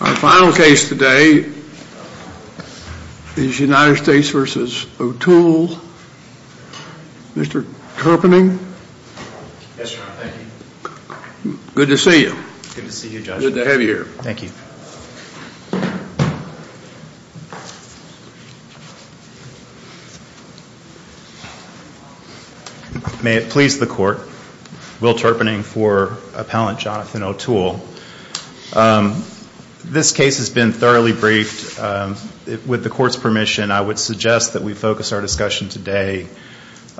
Our final case today is United States v. Otuel. Mr. Terpening? Yes, Your Honor. Thank you. Good to see you. Good to see you, Judge. Good to have you here. Thank you. May it please the Court, Will Terpening for Appellant Jonathan Otuel. This case has been thoroughly briefed. With the Court's permission, I would suggest that we focus our discussion today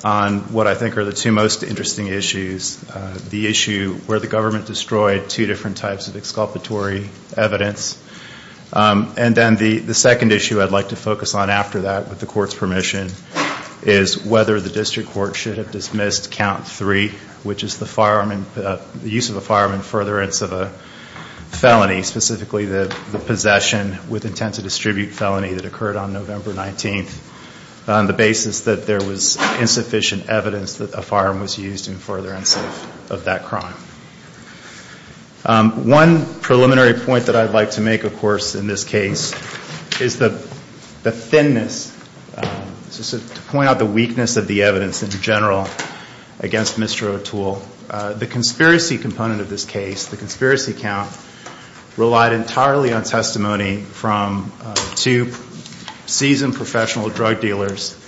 on what I think are the two most interesting issues, the issue where the government destroyed two different types of exculpatory evidence, and then the second issue I'd like to focus on after that, with the Court's permission, is whether the District Court should have dismissed Count 3, which is the use of a firearm in furtherance of a felony, specifically the possession with intent to distribute felony that occurred on November 19th, on the basis that there was insufficient evidence that a firearm was used in furtherance of that crime. One preliminary point that I'd like to make, of course, in this case is the thinness, to point out the weakness of the evidence in general against Mr. Otuel. The conspiracy component of this case, the conspiracy count, relied entirely on testimony from two seasoned professional drug dealers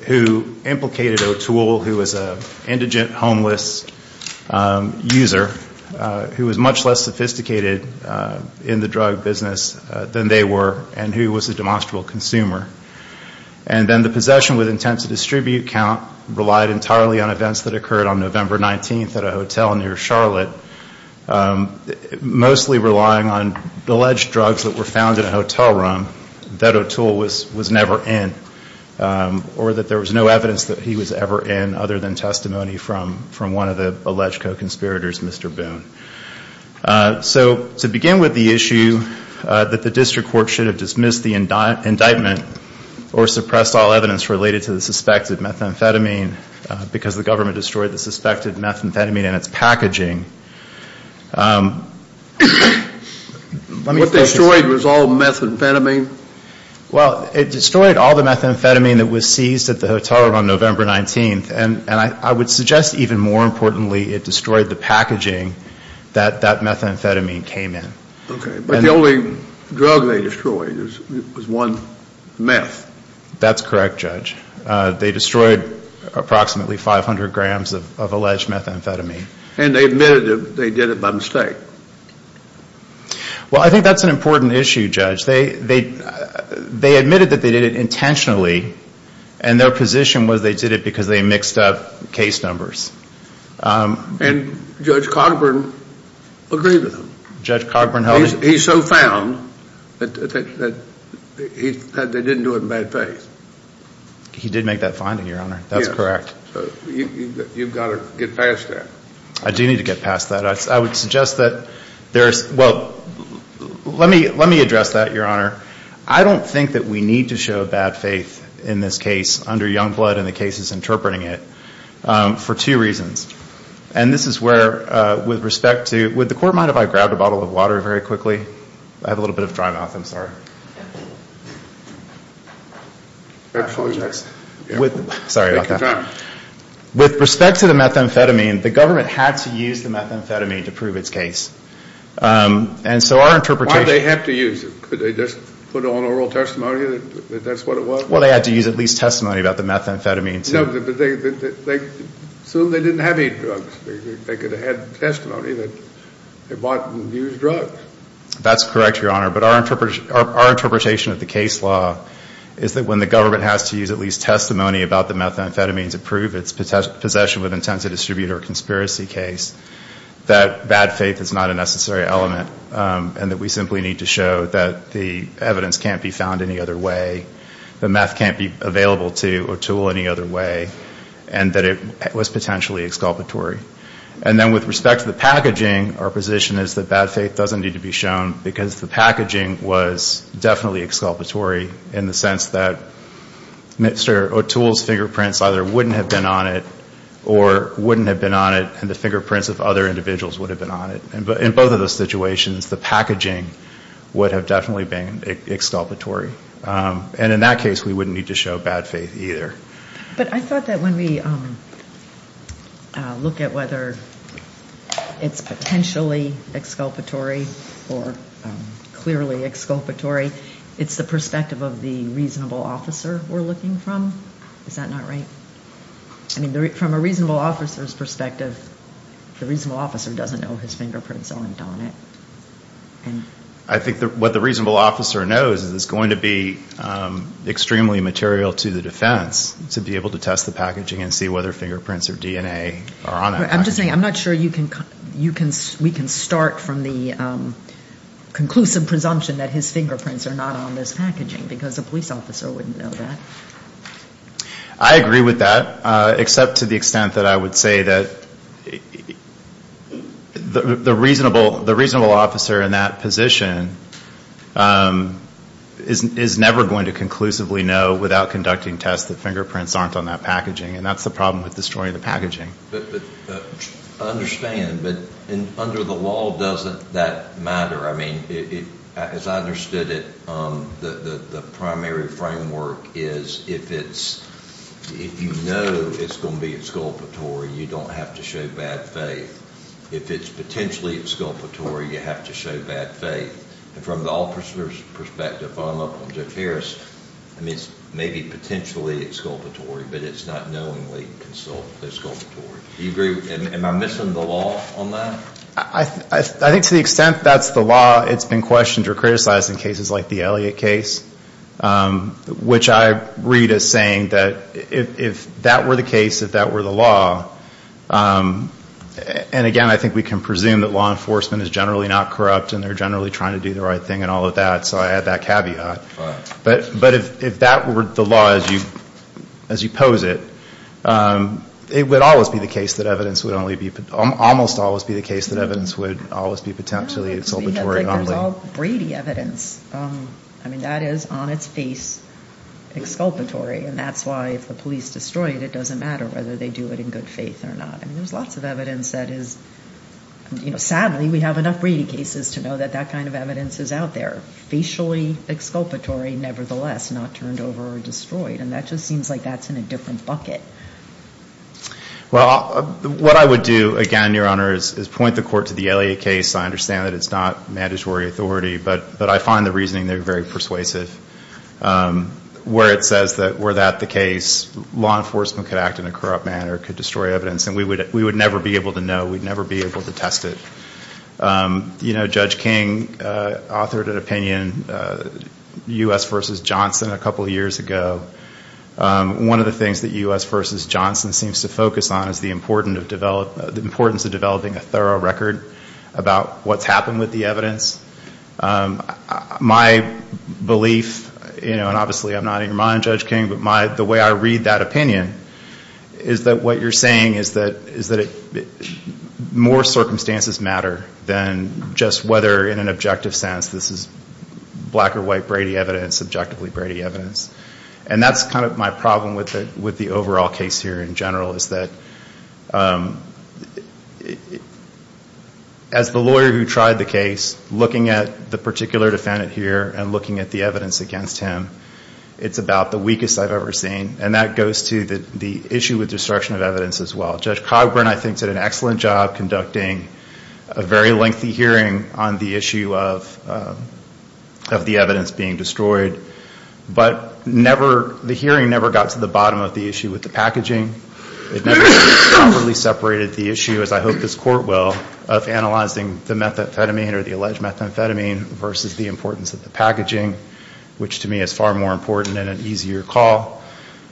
who implicated Otuel, who was an indigent homeless user, who was much less sophisticated in the drug business than they were, and who was a demonstrable consumer. And then the possession with intent to distribute count relied entirely on events that occurred on November 19th at a hotel near Charlotte, mostly relying on alleged drugs that were found in a hotel room that Otuel was never in, or that there was no evidence that he was ever in other than testimony from one of the alleged co-conspirators, Mr. Boone. So to begin with the issue that the District Court should have dismissed the indictment or suppressed all evidence related to the suspected methamphetamine because the government destroyed the suspected methamphetamine and its packaging. What destroyed was all methamphetamine? Well, it destroyed all the methamphetamine that was seized at the hotel room on November 19th, and I would suggest even more importantly it destroyed the packaging that that methamphetamine came in. Okay, but the only drug they destroyed was one meth. That's correct, Judge. They destroyed approximately 500 grams of alleged methamphetamine. And they admitted they did it by mistake. Well, I think that's an important issue, Judge. They admitted that they did it intentionally, and their position was they did it because they mixed up case numbers. And Judge Cogburn agreed with them. Judge Cogburn held it? He so found that they didn't do it in bad faith. He did make that finding, Your Honor. Yes. That's correct. So you've got to get past that. I do need to get past that. I would suggest that there's – well, let me address that, Your Honor. I don't think that we need to show bad faith in this case under Youngblood and the cases interpreting it for two reasons. And this is where, with respect to – would the Court mind if I grabbed a bottle of water very quickly? I have a little bit of dry mouth. I'm sorry. Sorry about that. With respect to the methamphetamine, the government had to use the methamphetamine to prove its case. And so our interpretation – Why did they have to use it? Could they just put it on oral testimony that that's what it was? Well, they had to use at least testimony about the methamphetamine. So they didn't have any drugs. They could have had testimony that they bought and used drugs. That's correct, Your Honor. But our interpretation of the case law is that when the government has to use at least testimony about the methamphetamine to prove its possession with intent to distribute or conspiracy case, that bad faith is not a necessary element and that we simply need to show that the evidence can't be found any other way, that meth can't be available to O'Toole any other way, and that it was potentially exculpatory. And then with respect to the packaging, our position is that bad faith doesn't need to be shown because the packaging was definitely exculpatory in the sense that Mr. O'Toole's fingerprints either wouldn't have been on it or wouldn't have been on it and the fingerprints of other individuals would have been on it. In both of those situations, the packaging would have definitely been exculpatory. And in that case, we wouldn't need to show bad faith either. But I thought that when we look at whether it's potentially exculpatory or clearly exculpatory, it's the perspective of the reasonable officer we're looking from. Is that not right? I mean, from a reasonable officer's perspective, the reasonable officer doesn't know his fingerprints aren't on it. I think what the reasonable officer knows is it's going to be extremely material to the defense to be able to test the packaging and see whether fingerprints or DNA are on it. I'm just saying I'm not sure we can start from the conclusive presumption that his fingerprints are not on this packaging because a police officer wouldn't know that. I agree with that, except to the extent that I would say that the reasonable officer in that position is never going to conclusively know without conducting tests that fingerprints aren't on that packaging. And that's the problem with destroying the packaging. I understand. But under the law, doesn't that matter? I mean, as I understood it, the primary framework is if you know it's going to be exculpatory, you don't have to show bad faith. If it's potentially exculpatory, you have to show bad faith. And from the officer's perspective, if I'm up on Jeff Harris, I mean, it's maybe potentially exculpatory, but it's not knowingly exculpatory. Do you agree? Am I missing the law on that? I think to the extent that's the law, it's been questioned or criticized in cases like the Elliott case, which I read as saying that if that were the case, if that were the law, and, again, I think we can presume that law enforcement is generally not corrupt and they're generally trying to do the right thing and all of that, so I add that caveat. But if that were the law as you pose it, it would always be the case that evidence would only be ‑‑ almost always be the case that evidence would always be potentially exculpatory only. No, it would be that there's all Brady evidence. I mean, that is on its face exculpatory, and that's why if the police destroy it, it doesn't matter whether they do it in good faith or not. I mean, there's lots of evidence that is ‑‑ sadly, we have enough Brady cases to know that that kind of evidence is out there, facially exculpatory nevertheless, not turned over or destroyed, and that just seems like that's in a different bucket. Well, what I would do, again, Your Honor, is point the court to the Elliott case. I understand that it's not mandatory authority, but I find the reasoning there very persuasive. Where it says that were that the case, law enforcement could act in a corrupt manner, could destroy evidence, and we would never be able to know. We'd never be able to test it. You know, Judge King authored an opinion, U.S. v. Johnson, a couple years ago. One of the things that U.S. v. Johnson seems to focus on is the importance of developing a thorough record about what's happened with the evidence. My belief, you know, and obviously I'm not in your mind, Judge King, but the way I read that opinion is that what you're saying is that more circumstances matter than just whether in an objective sense this is black or white Brady evidence, objectively Brady evidence. And that's kind of my problem with the overall case here in general, is that as the lawyer who tried the case, looking at the particular defendant here and looking at the evidence against him, it's about the weakest I've ever seen. And that goes to the issue with destruction of evidence as well. Judge Cogburn, I think, did an excellent job conducting a very lengthy hearing on the issue of the evidence being destroyed. But never, the hearing never got to the bottom of the issue with the packaging. It never properly separated the issue, as I hope this Court will, of analyzing the methamphetamine or the alleged methamphetamine versus the importance of the packaging, which to me is far more important and an easier call.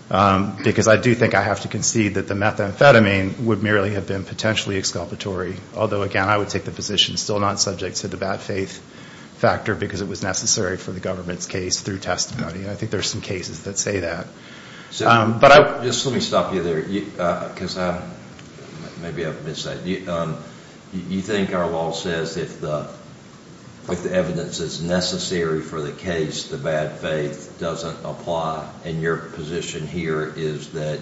Because I do think I have to concede that the methamphetamine would merely have been potentially exculpatory. Although, again, I would take the position still not subject to the bad faith factor because it was necessary for the government's case through testimony. I think there are some cases that say that. Just let me stop you there, because maybe I've missed that. You think our law says if the evidence is necessary for the case, the bad faith doesn't apply. And your position here is that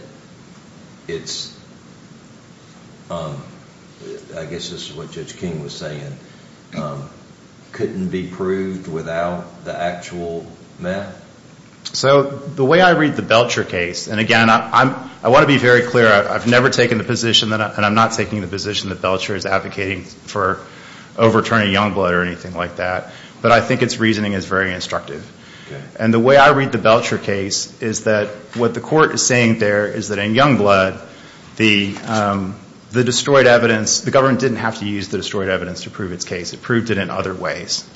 it's, I guess this is what Judge King was saying, couldn't be proved without the actual meth? So the way I read the Belcher case, and again, I want to be very clear. I've never taken the position, and I'm not taking the position, that Belcher is advocating for overturning Youngblood or anything like that. But I think its reasoning is very instructive. And the way I read the Belcher case is that what the Court is saying there is that in Youngblood, the destroyed evidence, the government didn't have to use the destroyed evidence to prove its case. It proved it in other ways.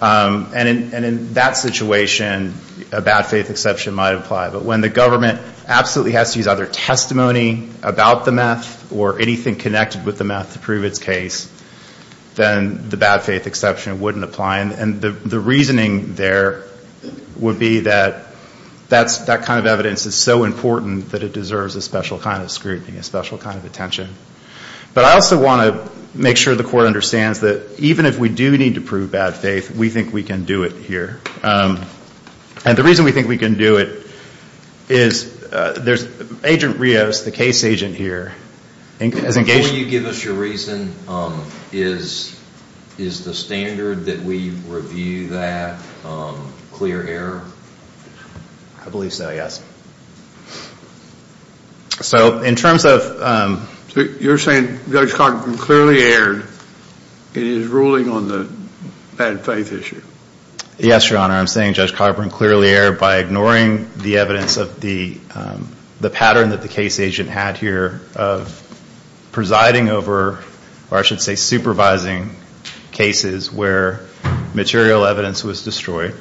And in that situation, a bad faith exception might apply. But when the government absolutely has to use either testimony about the meth or anything connected with the meth to prove its case, then the bad faith exception wouldn't apply. And the reasoning there would be that that kind of evidence is so important that it deserves a special kind of scrutiny, a special kind of attention. But I also want to make sure the Court understands that even if we do need to prove bad faith, we think we can do it here. And the reason we think we can do it is there's Agent Rios, the case agent here. Before you give us your reason, is the standard that we review that clear error? I believe so, yes. So in terms of... You're saying Judge Cogburn clearly erred in his ruling on the bad faith issue? Yes, Your Honor. I'm saying Judge Cogburn clearly erred by ignoring the evidence of the pattern that the case agent had here of presiding over, or I should say supervising, cases where material evidence was destroyed.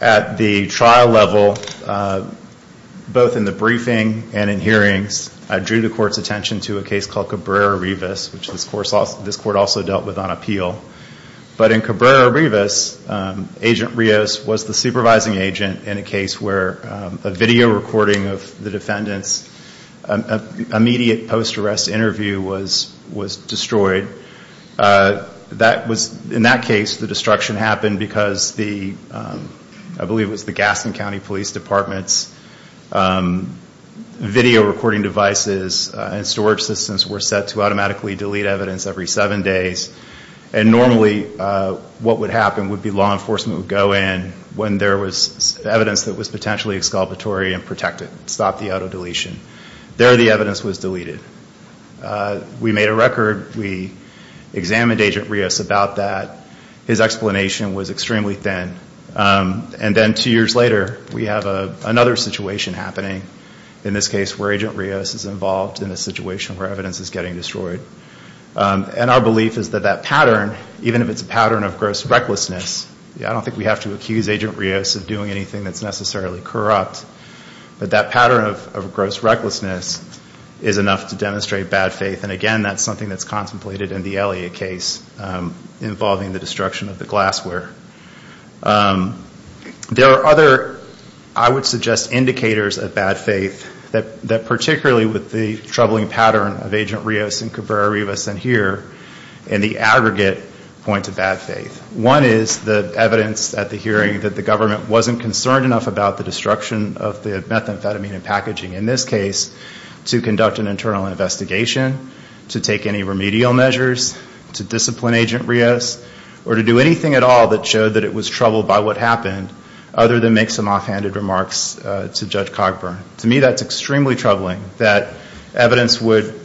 At the trial level, both in the briefing and in hearings, I drew the Court's attention to a case called Cabrera-Rivas, which this Court also dealt with on appeal. But in Cabrera-Rivas, Agent Rios was the supervising agent in a case where a video recording of the defendant's immediate post-arrest interview was destroyed. In that case, the destruction happened because I believe it was the Gaston County Police Department's video recording devices and storage systems were set to automatically delete evidence every seven days. And normally what would happen would be law enforcement would go in when there was evidence that was potentially exculpatory and protect it, stop the auto-deletion. There, the evidence was deleted. We made a record. We examined Agent Rios about that. His explanation was extremely thin. And then two years later, we have another situation happening, in this case where Agent Rios is involved in a situation where evidence is getting destroyed. And our belief is that that pattern, even if it's a pattern of gross recklessness, I don't think we have to accuse Agent Rios of doing anything that's necessarily corrupt, but that pattern of gross recklessness is enough to demonstrate bad faith. And again, that's something that's contemplated in the Elliott case involving the destruction of the glassware. There are other, I would suggest, indicators of bad faith, that particularly with the troubling pattern of Agent Rios and Cabrera-Rivas in here, and the aggregate point of bad faith. One is the evidence at the hearing that the government wasn't concerned enough about the destruction of the methamphetamine in packaging, in this case, to conduct an internal investigation, to take any remedial measures, to discipline Agent Rios, or to do anything at all that showed that it was troubled by what happened, other than make some offhanded remarks to Judge Cogburn. To me, that's extremely troubling, that evidence would,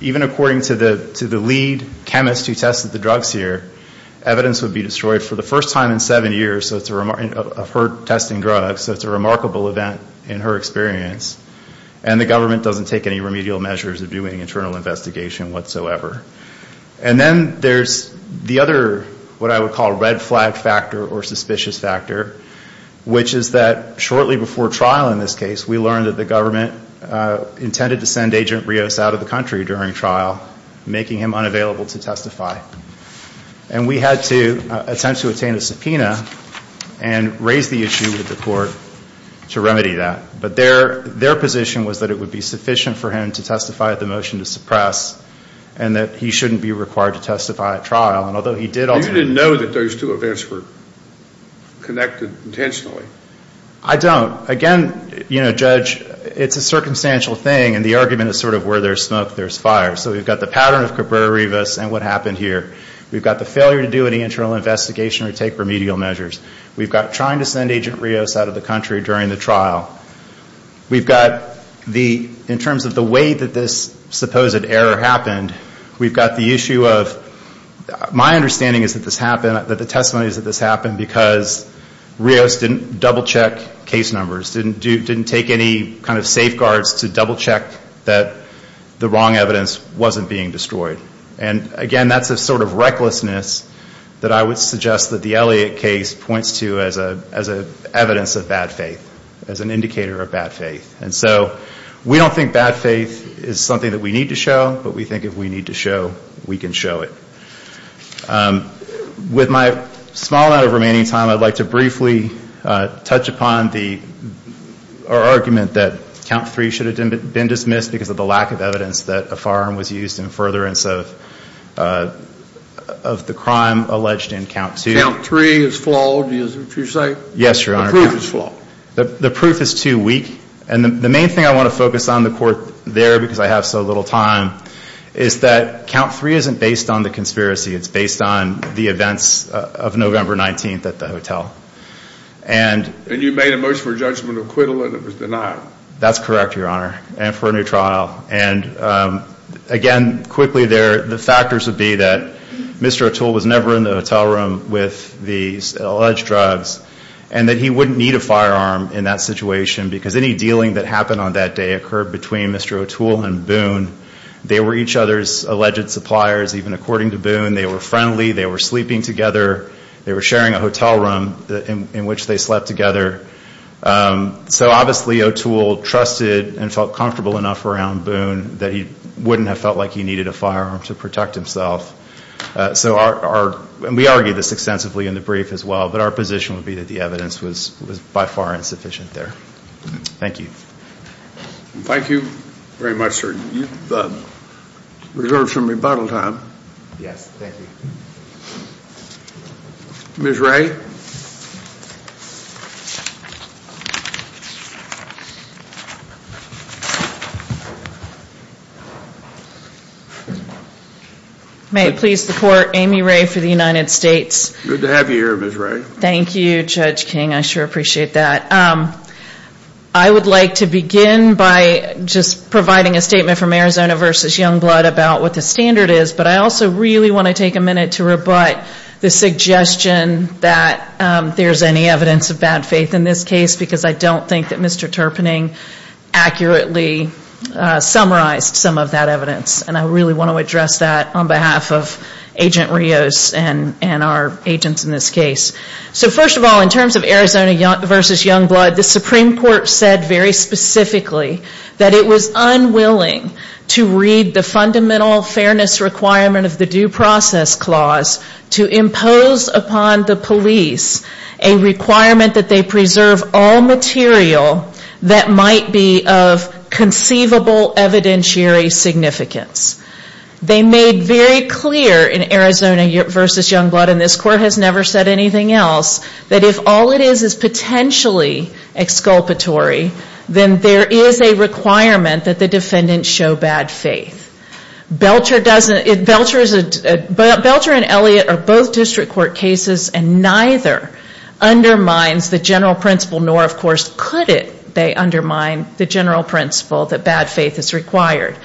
even according to the lead chemist who tested the drugs here, evidence would be destroyed for the first time in seven years of her testing drugs. So it's a remarkable event in her experience. And the government doesn't take any remedial measures of doing internal investigation whatsoever. And then there's the other, what I would call, red flag factor or suspicious factor, which is that shortly before trial in this case, we learned that the government intended to send Agent Rios out of the country during trial, making him unavailable to testify. And we had to attempt to attain a subpoena and raise the issue with the court to remedy that. But their position was that it would be sufficient for him to testify at the motion to suppress and that he shouldn't be required to testify at trial. And although he did ultimately- You didn't know that those two events were connected intentionally? I don't. Again, you know, Judge, it's a circumstantial thing, and the argument is sort of where there's smoke, there's fire. So we've got the pattern of Cabrera-Rivas and what happened here. We've got the failure to do any internal investigation or take remedial measures. We've got trying to send Agent Rios out of the country during the trial. We've got the, in terms of the way that this supposed error happened, we've got the issue of, my understanding is that this happened, that the testimony is that this happened because Rios didn't double-check case numbers, didn't take any kind of safeguards to double-check that the wrong evidence wasn't being destroyed. And, again, that's a sort of recklessness that I would suggest that the Elliott case points to as evidence of bad faith, as an indicator of bad faith. And so we don't think bad faith is something that we need to show, but we think if we need to show, we can show it. With my small amount of remaining time, I'd like to briefly touch upon the argument that Count 3 should have been dismissed because of the lack of evidence that a firearm was used in furtherance of the crime alleged in Count 2. Count 3 is flawed, is what you're saying? Yes, Your Honor. The proof is flawed. The proof is too weak. And the main thing I want to focus on the court there, because I have so little time, is that Count 3 isn't based on the conspiracy. It's based on the events of November 19th at the hotel. And you made a motion for judgment of acquittal, and it was denied. That's correct, Your Honor, and for a new trial. And, again, quickly, the factors would be that Mr. O'Toole was never in the hotel room with these alleged drugs and that he wouldn't need a firearm in that situation because any dealing that happened on that day occurred between Mr. O'Toole and Boone. They were each other's alleged suppliers, even according to Boone. They were friendly. They were sleeping together. They were sharing a hotel room in which they slept together. So, obviously, O'Toole trusted and felt comfortable enough around Boone that he wouldn't have felt like he needed a firearm to protect himself. So our, and we argued this extensively in the brief as well, but our position would be that the evidence was by far insufficient there. Thank you. Thank you very much, sir. We reserve some rebuttal time. Yes, thank you. Ms. Ray? May it please the Court, Amy Ray for the United States. Good to have you here, Ms. Ray. Thank you, Judge King. I sure appreciate that. I would like to begin by just providing a statement from Arizona v. Youngblood about what the standard is, but I also really want to take a minute to rebut the suggestion that there's any evidence of bad faith in this case because I don't think that Mr. Terpening accurately summarized some of that evidence, and I really want to address that on behalf of Agent Rios and our agents in this case. So, first of all, in terms of Arizona v. Youngblood, the Supreme Court said very specifically that it was unwilling to read the fundamental fairness requirement of the Due Process Clause to impose upon the police a requirement that they preserve all material that might be of conceivable evidentiary significance. They made very clear in Arizona v. Youngblood, and this Court has never said anything else, that if all it is is potentially exculpatory, then there is a requirement that the defendant show bad faith. Belcher and Elliott are both district court cases, and neither undermines the general principle, nor of course could they undermine the general principle that bad faith is required.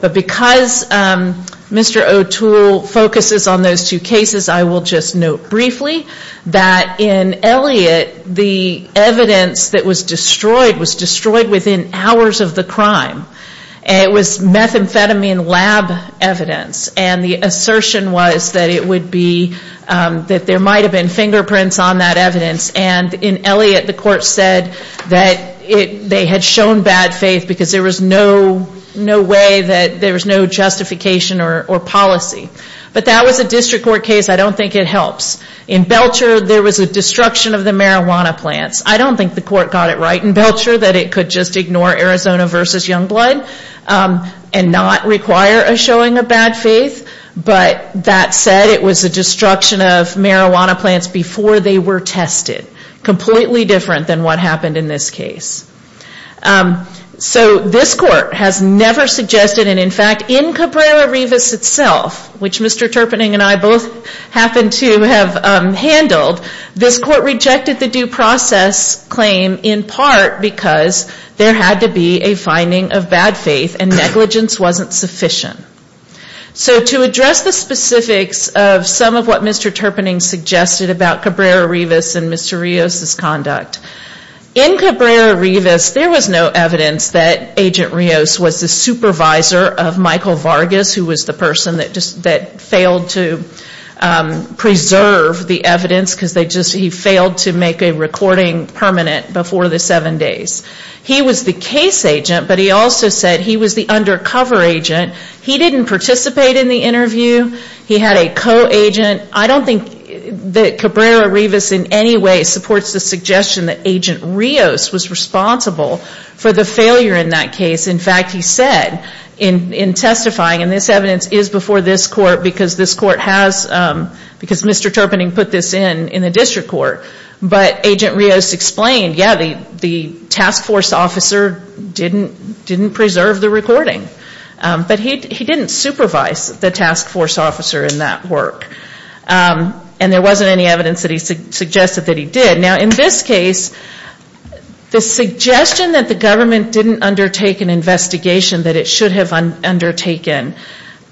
But because Mr. O'Toole focuses on those two cases, I will just note briefly that in Elliott, the evidence that was destroyed was destroyed within hours of the crime. It was methamphetamine lab evidence, and the assertion was that it would be, that there might have been fingerprints on that evidence. And in Elliott, the Court said that they had shown bad faith because there was no way that, there was no justification or policy. But that was a district court case. I don't think it helps. In Belcher, there was a destruction of the marijuana plants. I don't think the Court got it right in Belcher that it could just ignore Arizona v. Youngblood, and not require a showing of bad faith. But that said, it was a destruction of marijuana plants before they were tested. Completely different than what happened in this case. So this Court has never suggested, and in fact, in Cabrera-Rivas itself, which Mr. Terpening and I both happen to have handled, this Court rejected the due process claim in part because there had to be a finding of bad faith, and negligence wasn't sufficient. So to address the specifics of some of what Mr. Terpening suggested about Cabrera-Rivas and Mr. Rios' conduct. In Cabrera-Rivas, there was no evidence that Agent Rios was the supervisor of Michael Vargas, who was the person that failed to preserve the evidence, because he failed to make a recording permanent before the seven days. He was the case agent, but he also said he was the undercover agent. He didn't participate in the interview. He had a co-agent. I don't think that Cabrera-Rivas in any way supports the suggestion that Agent Rios was responsible for the failure in that case. In fact, he said in testifying, and this evidence is before this Court because Mr. Terpening put this in in the district court, but Agent Rios explained, yeah, the task force officer didn't preserve the recording. But he didn't supervise the task force officer in that work. And there wasn't any evidence that he suggested that he did. Now, in this case, the suggestion that the government didn't undertake an investigation that it should have undertaken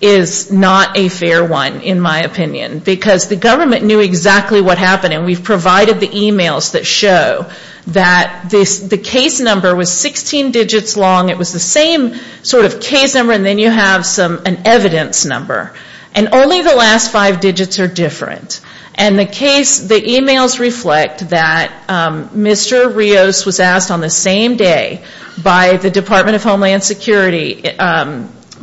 is not a fair one, in my opinion, because the government knew exactly what happened. And we've provided the emails that show that the case number was 16 digits long. It was the same sort of case number, and then you have an evidence number. And only the last five digits are different. And the case, the emails reflect that Mr. Rios was asked on the same day by the Department of Homeland Security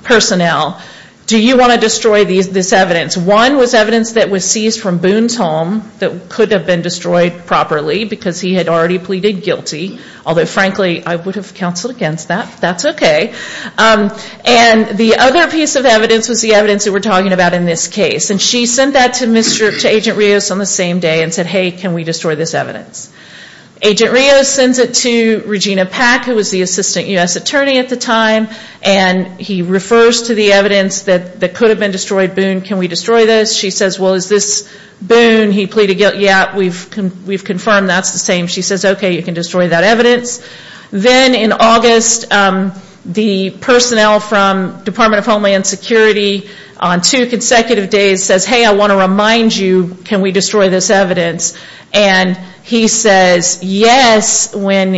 personnel, do you want to destroy this evidence? One was evidence that was seized from Boone's home that could have been destroyed properly because he had already pleaded guilty, although frankly, I would have counseled against that. That's okay. And the other piece of evidence was the evidence that we're talking about in this case. And she sent that to Agent Rios on the same day and said, hey, can we destroy this evidence? Agent Rios sends it to Regina Pack, who was the assistant U.S. attorney at the time, and he refers to the evidence that could have been destroyed, Boone, can we destroy this? She says, well, is this Boone? He pleaded guilty. Yeah, we've confirmed that's the same. She says, okay, you can destroy that evidence. Then in August, the personnel from Department of Homeland Security on two consecutive days says, hey, I want to remind you, can we destroy this evidence? And he says yes, and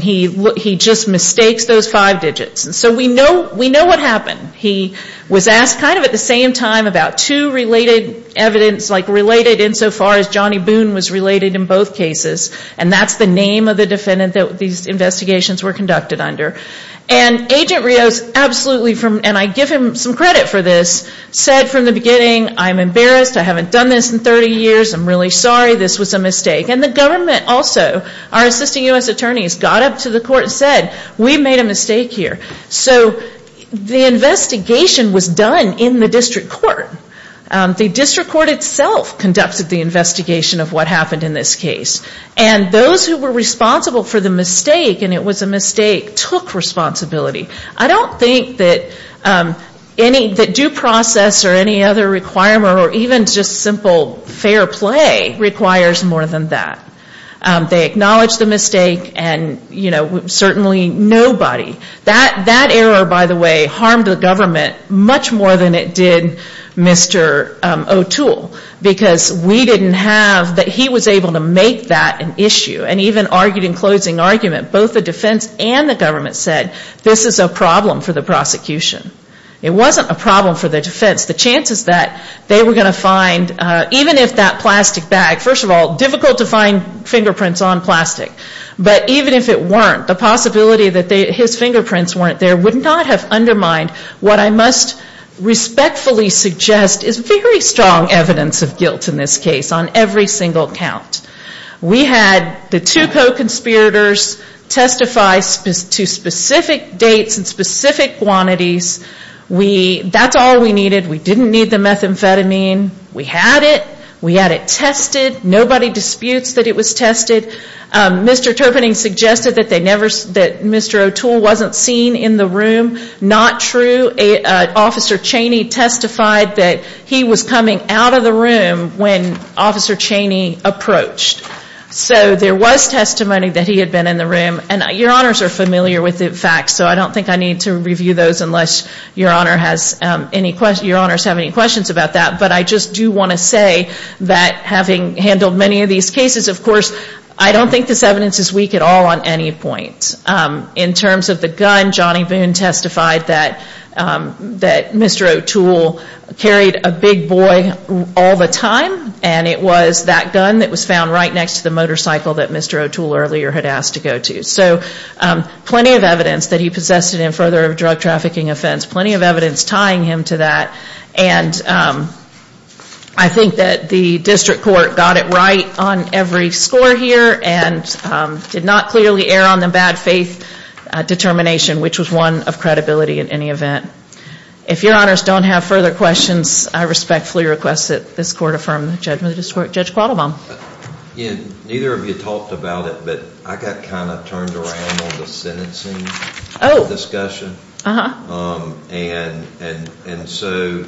he just mistakes those five digits. So we know what happened. He was asked kind of at the same time about two related evidence, like related insofar as Johnny Boone was related in both cases, and that's the name of the defendant that these investigations were conducted under. And Agent Rios absolutely, and I give him some credit for this, said from the beginning, I'm embarrassed, I haven't done this in 30 years, I'm really sorry, this was a mistake. And the government also, our assisting U.S. attorneys, got up to the court and said, we made a mistake here. So the investigation was done in the district court. The district court itself conducted the investigation of what happened in this case. And those who were responsible for the mistake, and it was a mistake, took responsibility. I don't think that any, that due process or any other requirement, or even just simple fair play requires more than that. They acknowledge the mistake, and certainly nobody, that error, by the way, harmed the government much more than it did Mr. O'Toole. Because we didn't have, that he was able to make that an issue. And even argued in closing argument, both the defense and the government said, this is a problem for the prosecution. It wasn't a problem for the defense. The chances that they were going to find, even if that plastic bag, first of all, difficult to find fingerprints on plastic. But even if it weren't, the possibility that his fingerprints weren't there would not have undermined what I must respectfully suggest is very strong evidence of guilt in this case. On every single count. We had the two co-conspirators testify to specific dates and specific quantities. We, that's all we needed. We didn't need the methamphetamine. We had it. We had it tested. Nobody disputes that it was tested. Mr. Terpening suggested that they never, that Mr. O'Toole wasn't seen in the room. Not true. Officer Chaney testified that he was coming out of the room when Officer Chaney approached. So there was testimony that he had been in the room. And your honors are familiar with the facts, so I don't think I need to review those unless your honors have any questions about that. But I just do want to say that having handled many of these cases, of course, I don't think this evidence is weak at all on any point. In terms of the gun, Johnny Boone testified that Mr. O'Toole carried a big boy all the time and it was that gun that was found right next to the motorcycle that Mr. O'Toole earlier had asked to go to. So plenty of evidence that he possessed it in further of a drug trafficking offense. Plenty of evidence tying him to that. And I think that the district court got it right on every score here and did not clearly err on the bad faith determination, which was one of credibility in any event. If your honors don't have further questions, I respectfully request that this court affirm the judgment of Judge Quattlebaum. Neither of you talked about it, but I got kind of turned around on the sentencing discussion. And so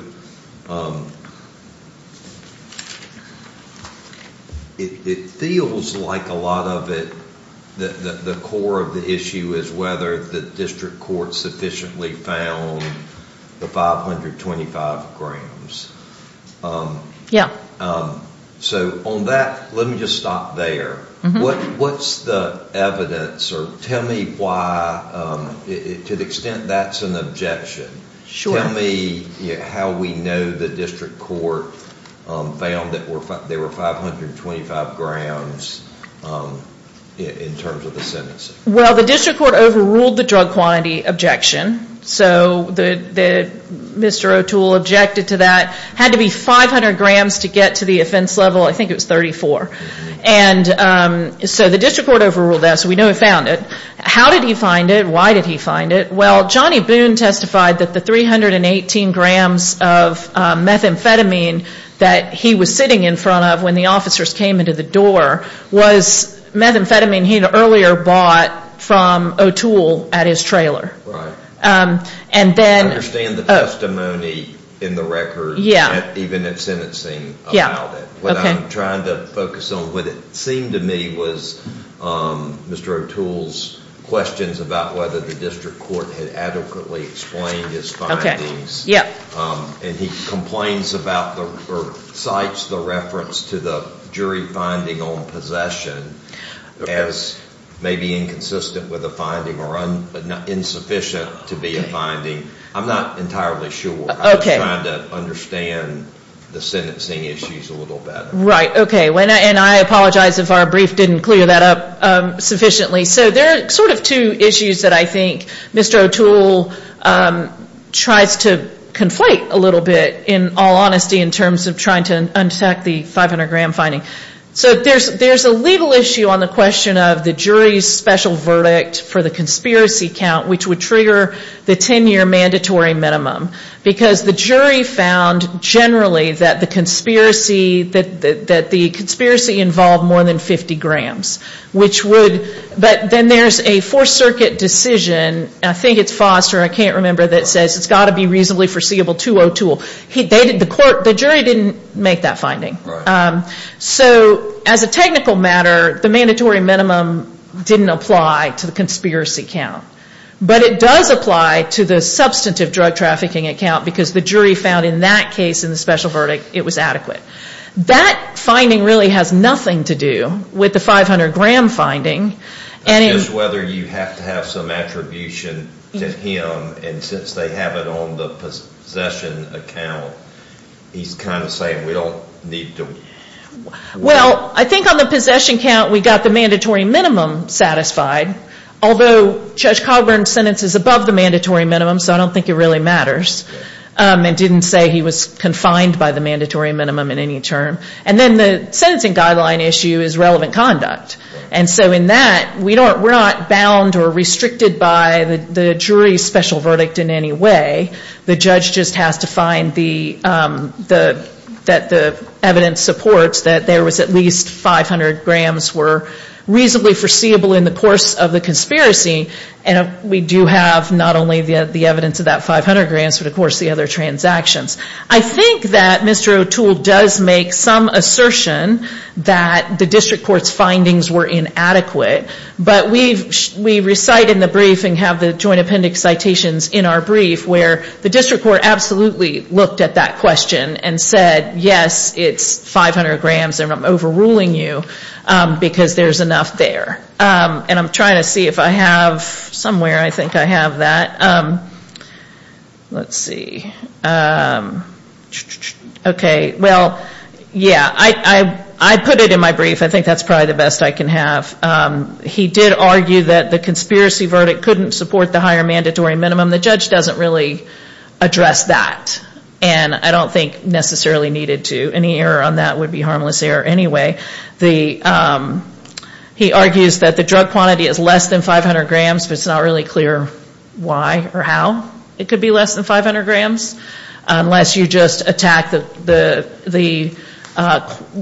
it feels like a lot of it, the core of the issue is whether the district court sufficiently found the 525 grams. So on that, let me just stop there. What's the evidence or tell me why, to the extent that's an objection. Tell me how we know the district court found that there were 525 grams in terms of the sentencing. Well, the district court overruled the drug quantity objection. So Mr. O'Toole objected to that. Had to be 500 grams to get to the offense level. I think it was 34. So the district court overruled that. So we know he found it. How did he find it? Why did he find it? Well, Johnny Boone testified that the 318 grams of methamphetamine that he was sitting in front of when the officers came into the door was methamphetamine he had earlier bought from O'Toole at his trailer. And then I understand the testimony in the record, even in sentencing about it. What I'm trying to focus on, what it seemed to me was Mr. O'Toole's questions about whether the district court had adequately explained his findings. And he complains about, or cites the reference to the jury finding on possession as maybe inconsistent with a finding or insufficient to be a finding. I'm not entirely sure. I'm trying to understand the sentencing issues a little better. Right. Okay. And I apologize if our brief didn't clear that up sufficiently. So there are sort of two issues that I think Mr. O'Toole tries to conflate a little bit, in all honesty, in terms of trying to untack the 500-gram finding. So there's a legal issue on the question of the jury's special verdict for the conspiracy count, which would trigger the 10-year mandatory minimum. Because the jury found generally that the conspiracy involved more than 50 grams, which would, but then there's a Fourth Circuit decision, I think it's Foster, I can't remember, that says it's got to be possibly foreseeable 202. The jury didn't make that finding. So as a technical matter, the mandatory minimum didn't apply to the conspiracy count. But it does apply to the substantive drug trafficking account, because the jury found in that case, in the special verdict, it was adequate. That finding really has nothing to do with the 500-gram finding. Just whether you have to have some attribution to him, and since they have it on the possession account, he's kind of saying we don't need to. Well, I think on the possession count, we got the mandatory minimum satisfied. Although Judge Coburn's sentence is above the mandatory minimum, so I don't think it really matters. And didn't say he was confined by the mandatory minimum in any way. The judge just has to find the evidence supports that there was at least 500 grams were reasonably foreseeable in the course of the conspiracy. And we do have not only the evidence of that 500 grams, but of course the other transactions. I think that Mr. O'Toole does make some assertion that the district court's finding wasn't adequate. But we recite in the brief and have the joint appendix citations in our brief where the district court absolutely looked at that question and said, yes, it's 500 grams and I'm overruling you, because there's enough there. And I'm trying to see if I have somewhere I think I have that. Let's see. Okay. Well, yeah, I put it in my brief. I think that's probably the best I can have. He did argue that the conspiracy verdict couldn't support the higher mandatory minimum. The judge doesn't really address that. And I don't think necessarily needed to. Any error on that would be harmless error anyway. He argues that the drug quantity is less than 500 grams, but it's not really clear why or how it could be less than 500 grams unless you just attack the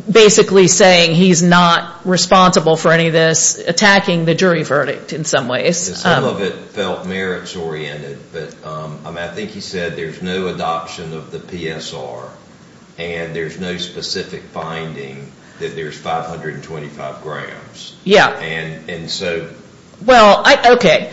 basically saying he's not responsible for any of this, attacking the jury verdict in some ways. Some of it felt merits oriented, but I think he said there's no adoption of the PSR and there's no specific finding that there's 525 grams. Yeah. Well, okay.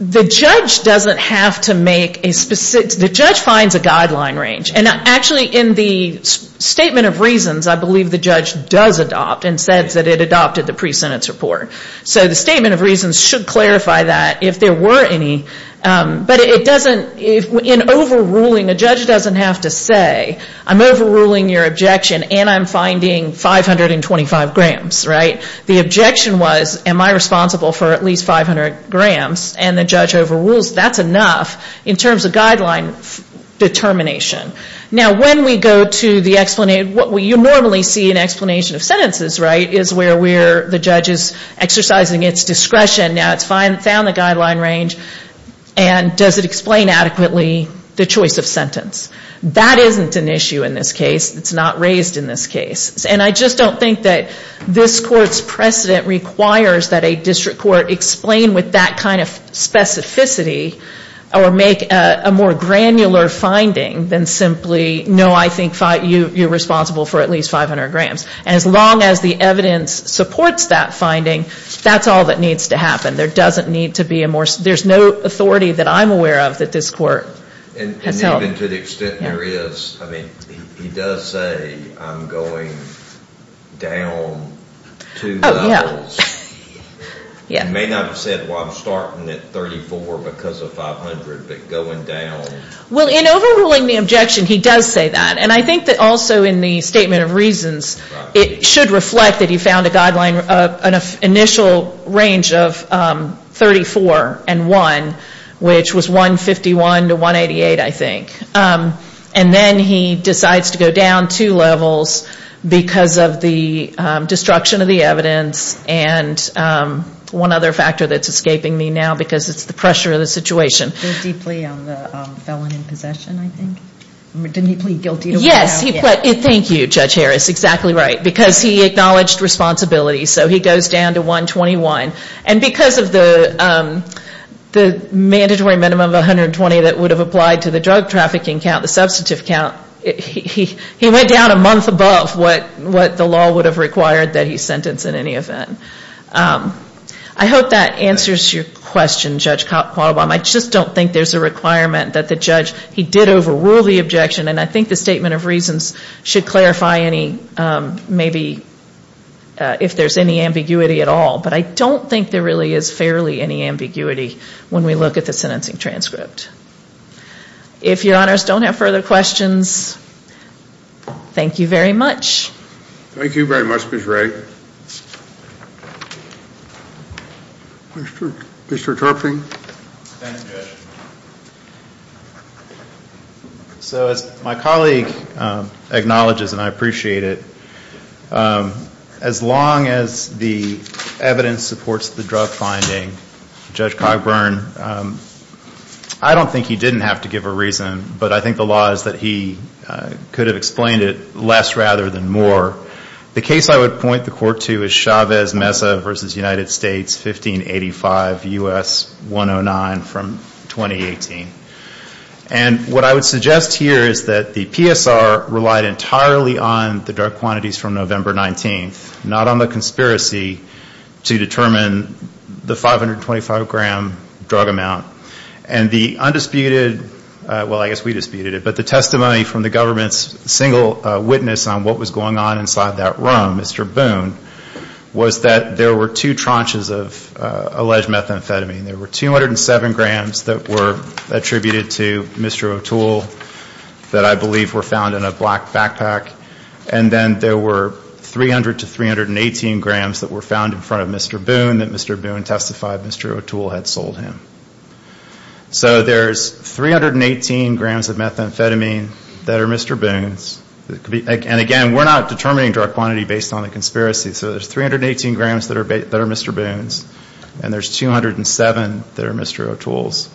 The judge doesn't have to make a specific, the judge finds a guideline range. And actually in the statement of reasons, I believe the judge does adopt and says that it adopted the pre-sentence report. So the statement of reasons should clarify that if there were any. But it doesn't, in overruling, a judge doesn't have to say I'm overruling your objection and I'm finding 525 grams. The objection was am I responsible for at least 500 grams and the judge overrules, that's enough in terms of guideline determination. Now, when we go to the explanation, what you normally see in explanation of sentences is where the judge is exercising its discretion. Now it's found the guideline range. And does it explain adequately the choice of sentence? That isn't an issue in this case. It's not raised in this case. And I just don't think that this court's precedent requires that a district court explain with that kind of specificity or make a more granular finding than simply no, I think you're responsible for at least 500 grams. As long as the evidence supports that finding, that's all that needs to happen. There doesn't need to be a more, there's no authority that I'm aware of that this court has held. And even to the extent there is, I mean, he does say I'm going down two levels. Oh, yeah. He may not have said, well, I'm starting at 34 because of 500, but going down. Well, in overruling the objection, he does say that. And I think that also in the statement of reasons, it should reflect that he found an initial range of 34 and 1, which was 151 to 188, I think. And then he decides to go down two levels because of the destruction of the evidence and one other factor that's escaping me now because it's the pressure of the situation. Did he plead guilty on the felon in possession, I think? Yes. Thank you, Judge Harris. Exactly right. Because he acknowledged responsibility. So he goes down to 121. And because of the mandatory minimum of 120 that would have applied to the drug trafficking count, the substantive count, he went down a month above what the law would have required that he sentence in any event. I hope that answers your question, Judge Qualibam. I just don't think there's a requirement that the judge, he did overrule the objection. And I think the statement of reasons should clarify any, maybe, if there's any ambiguity at all. But I don't think there really is fairly any ambiguity when we look at the sentencing transcript. If your honors don't have further questions, thank you very much. Thank you very much, Ms. Ray. Mr. Turping. Thank you, Judge. So as my colleague acknowledges, and I appreciate it, as long as the evidence supports the drug finding, Judge Cogburn, I don't think he didn't have to give a reason. But I think the law is that he could have explained it less rather than more. The case I would point the court to is Chavez-Mesa v. United States, 1585 U.S. 109 from 2018. And what I would suggest here is that the PSR relied entirely on the drug quantities from November 19th, not on the conspiracy to determine the 525-gram drug amount. And the undisputed, well, I guess we disputed it, but the testimony from the government's single witness on what was going on inside that room, Mr. Boone, was that there were two tranches of alleged methamphetamine. There were 207 grams that were attributed to Mr. O'Toole that I believe were found in a front of Mr. Boone, that Mr. Boone testified Mr. O'Toole had sold him. So there's 318 grams of methamphetamine that are Mr. Boone's. And again, we're not determining drug quantity based on the conspiracy. So there's 318 grams that are Mr. Boone's. And there's 207 that are Mr. O'Toole's.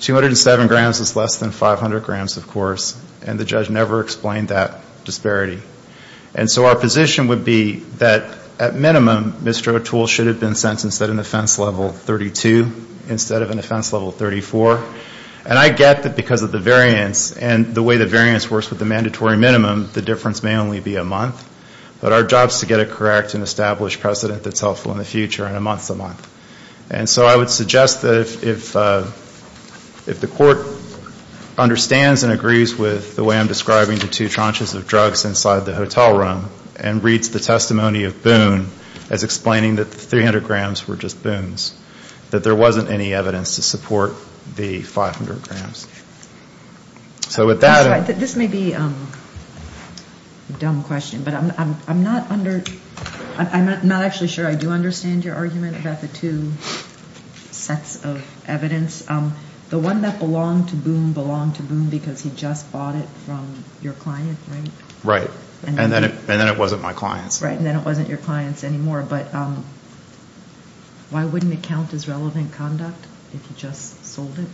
207 grams is less than 500 grams, of course. And the judge never explained that disparity. And so our position would be that at minimum, Mr. O'Toole should have been sentenced at an offense level 32 instead of an offense level 34. And I get that because of the variance and the way the variance works with the mandatory minimum, the difference may only be a month. But our job is to get a correct and established precedent that's helpful in the future in a month's amount. And so I would suggest that if the court understands and agrees with the way I'm describing the two tranches of drugs inside the hotel room and reads the testimony of Boone as explaining that the 300 grams were just Boone's, that there wasn't any evidence to support the 500 grams. So with that... This may be a dumb question, but I'm not under, I'm not actually sure I do understand your argument about the two sets of evidence. The one that belonged to Boone belonged to Boone because he just bought it from your client, right? Right. And then it wasn't my client's. And then it wasn't your client's anymore. But why wouldn't it count as relevant conduct if he just sold it?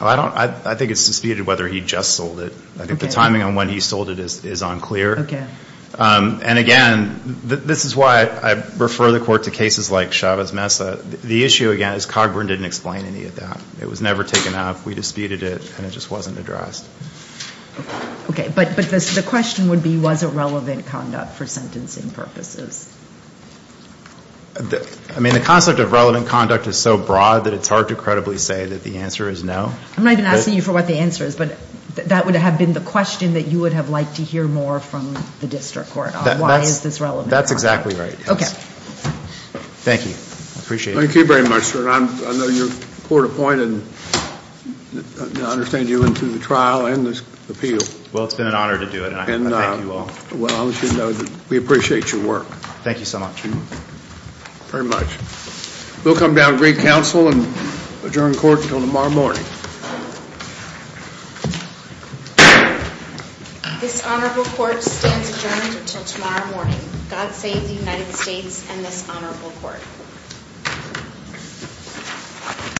I think it's disputed whether he just sold it. I think the timing on when he sold it is unclear. And again, this is why I refer the court to cases like Chavez Mesa. The issue again is Cogburn didn't explain any of that. It was never taken up. We disputed it, and it just wasn't addressed. Okay. But the question would be, was it relevant conduct for sentencing purposes? I mean, the concept of relevant conduct is so broad that it's hard to credibly say that the answer is no. I'm not even asking you for what the answer is, but that would have been the question that you would have liked to hear more from the district court. Why is this relevant? That's exactly right. Okay. Thank you. I appreciate it. Thank you very much, sir. I know you're court-appointed, and I understand you went through the trial and the appeal. Well, it's been an honor to do it, and I thank you all. Well, I'll let you know that we appreciate your work. Thank you so much. Very much. We'll come down to great counsel and adjourn court until tomorrow morning. This honorable court stands adjourned until tomorrow morning. God save the United States and this honorable court.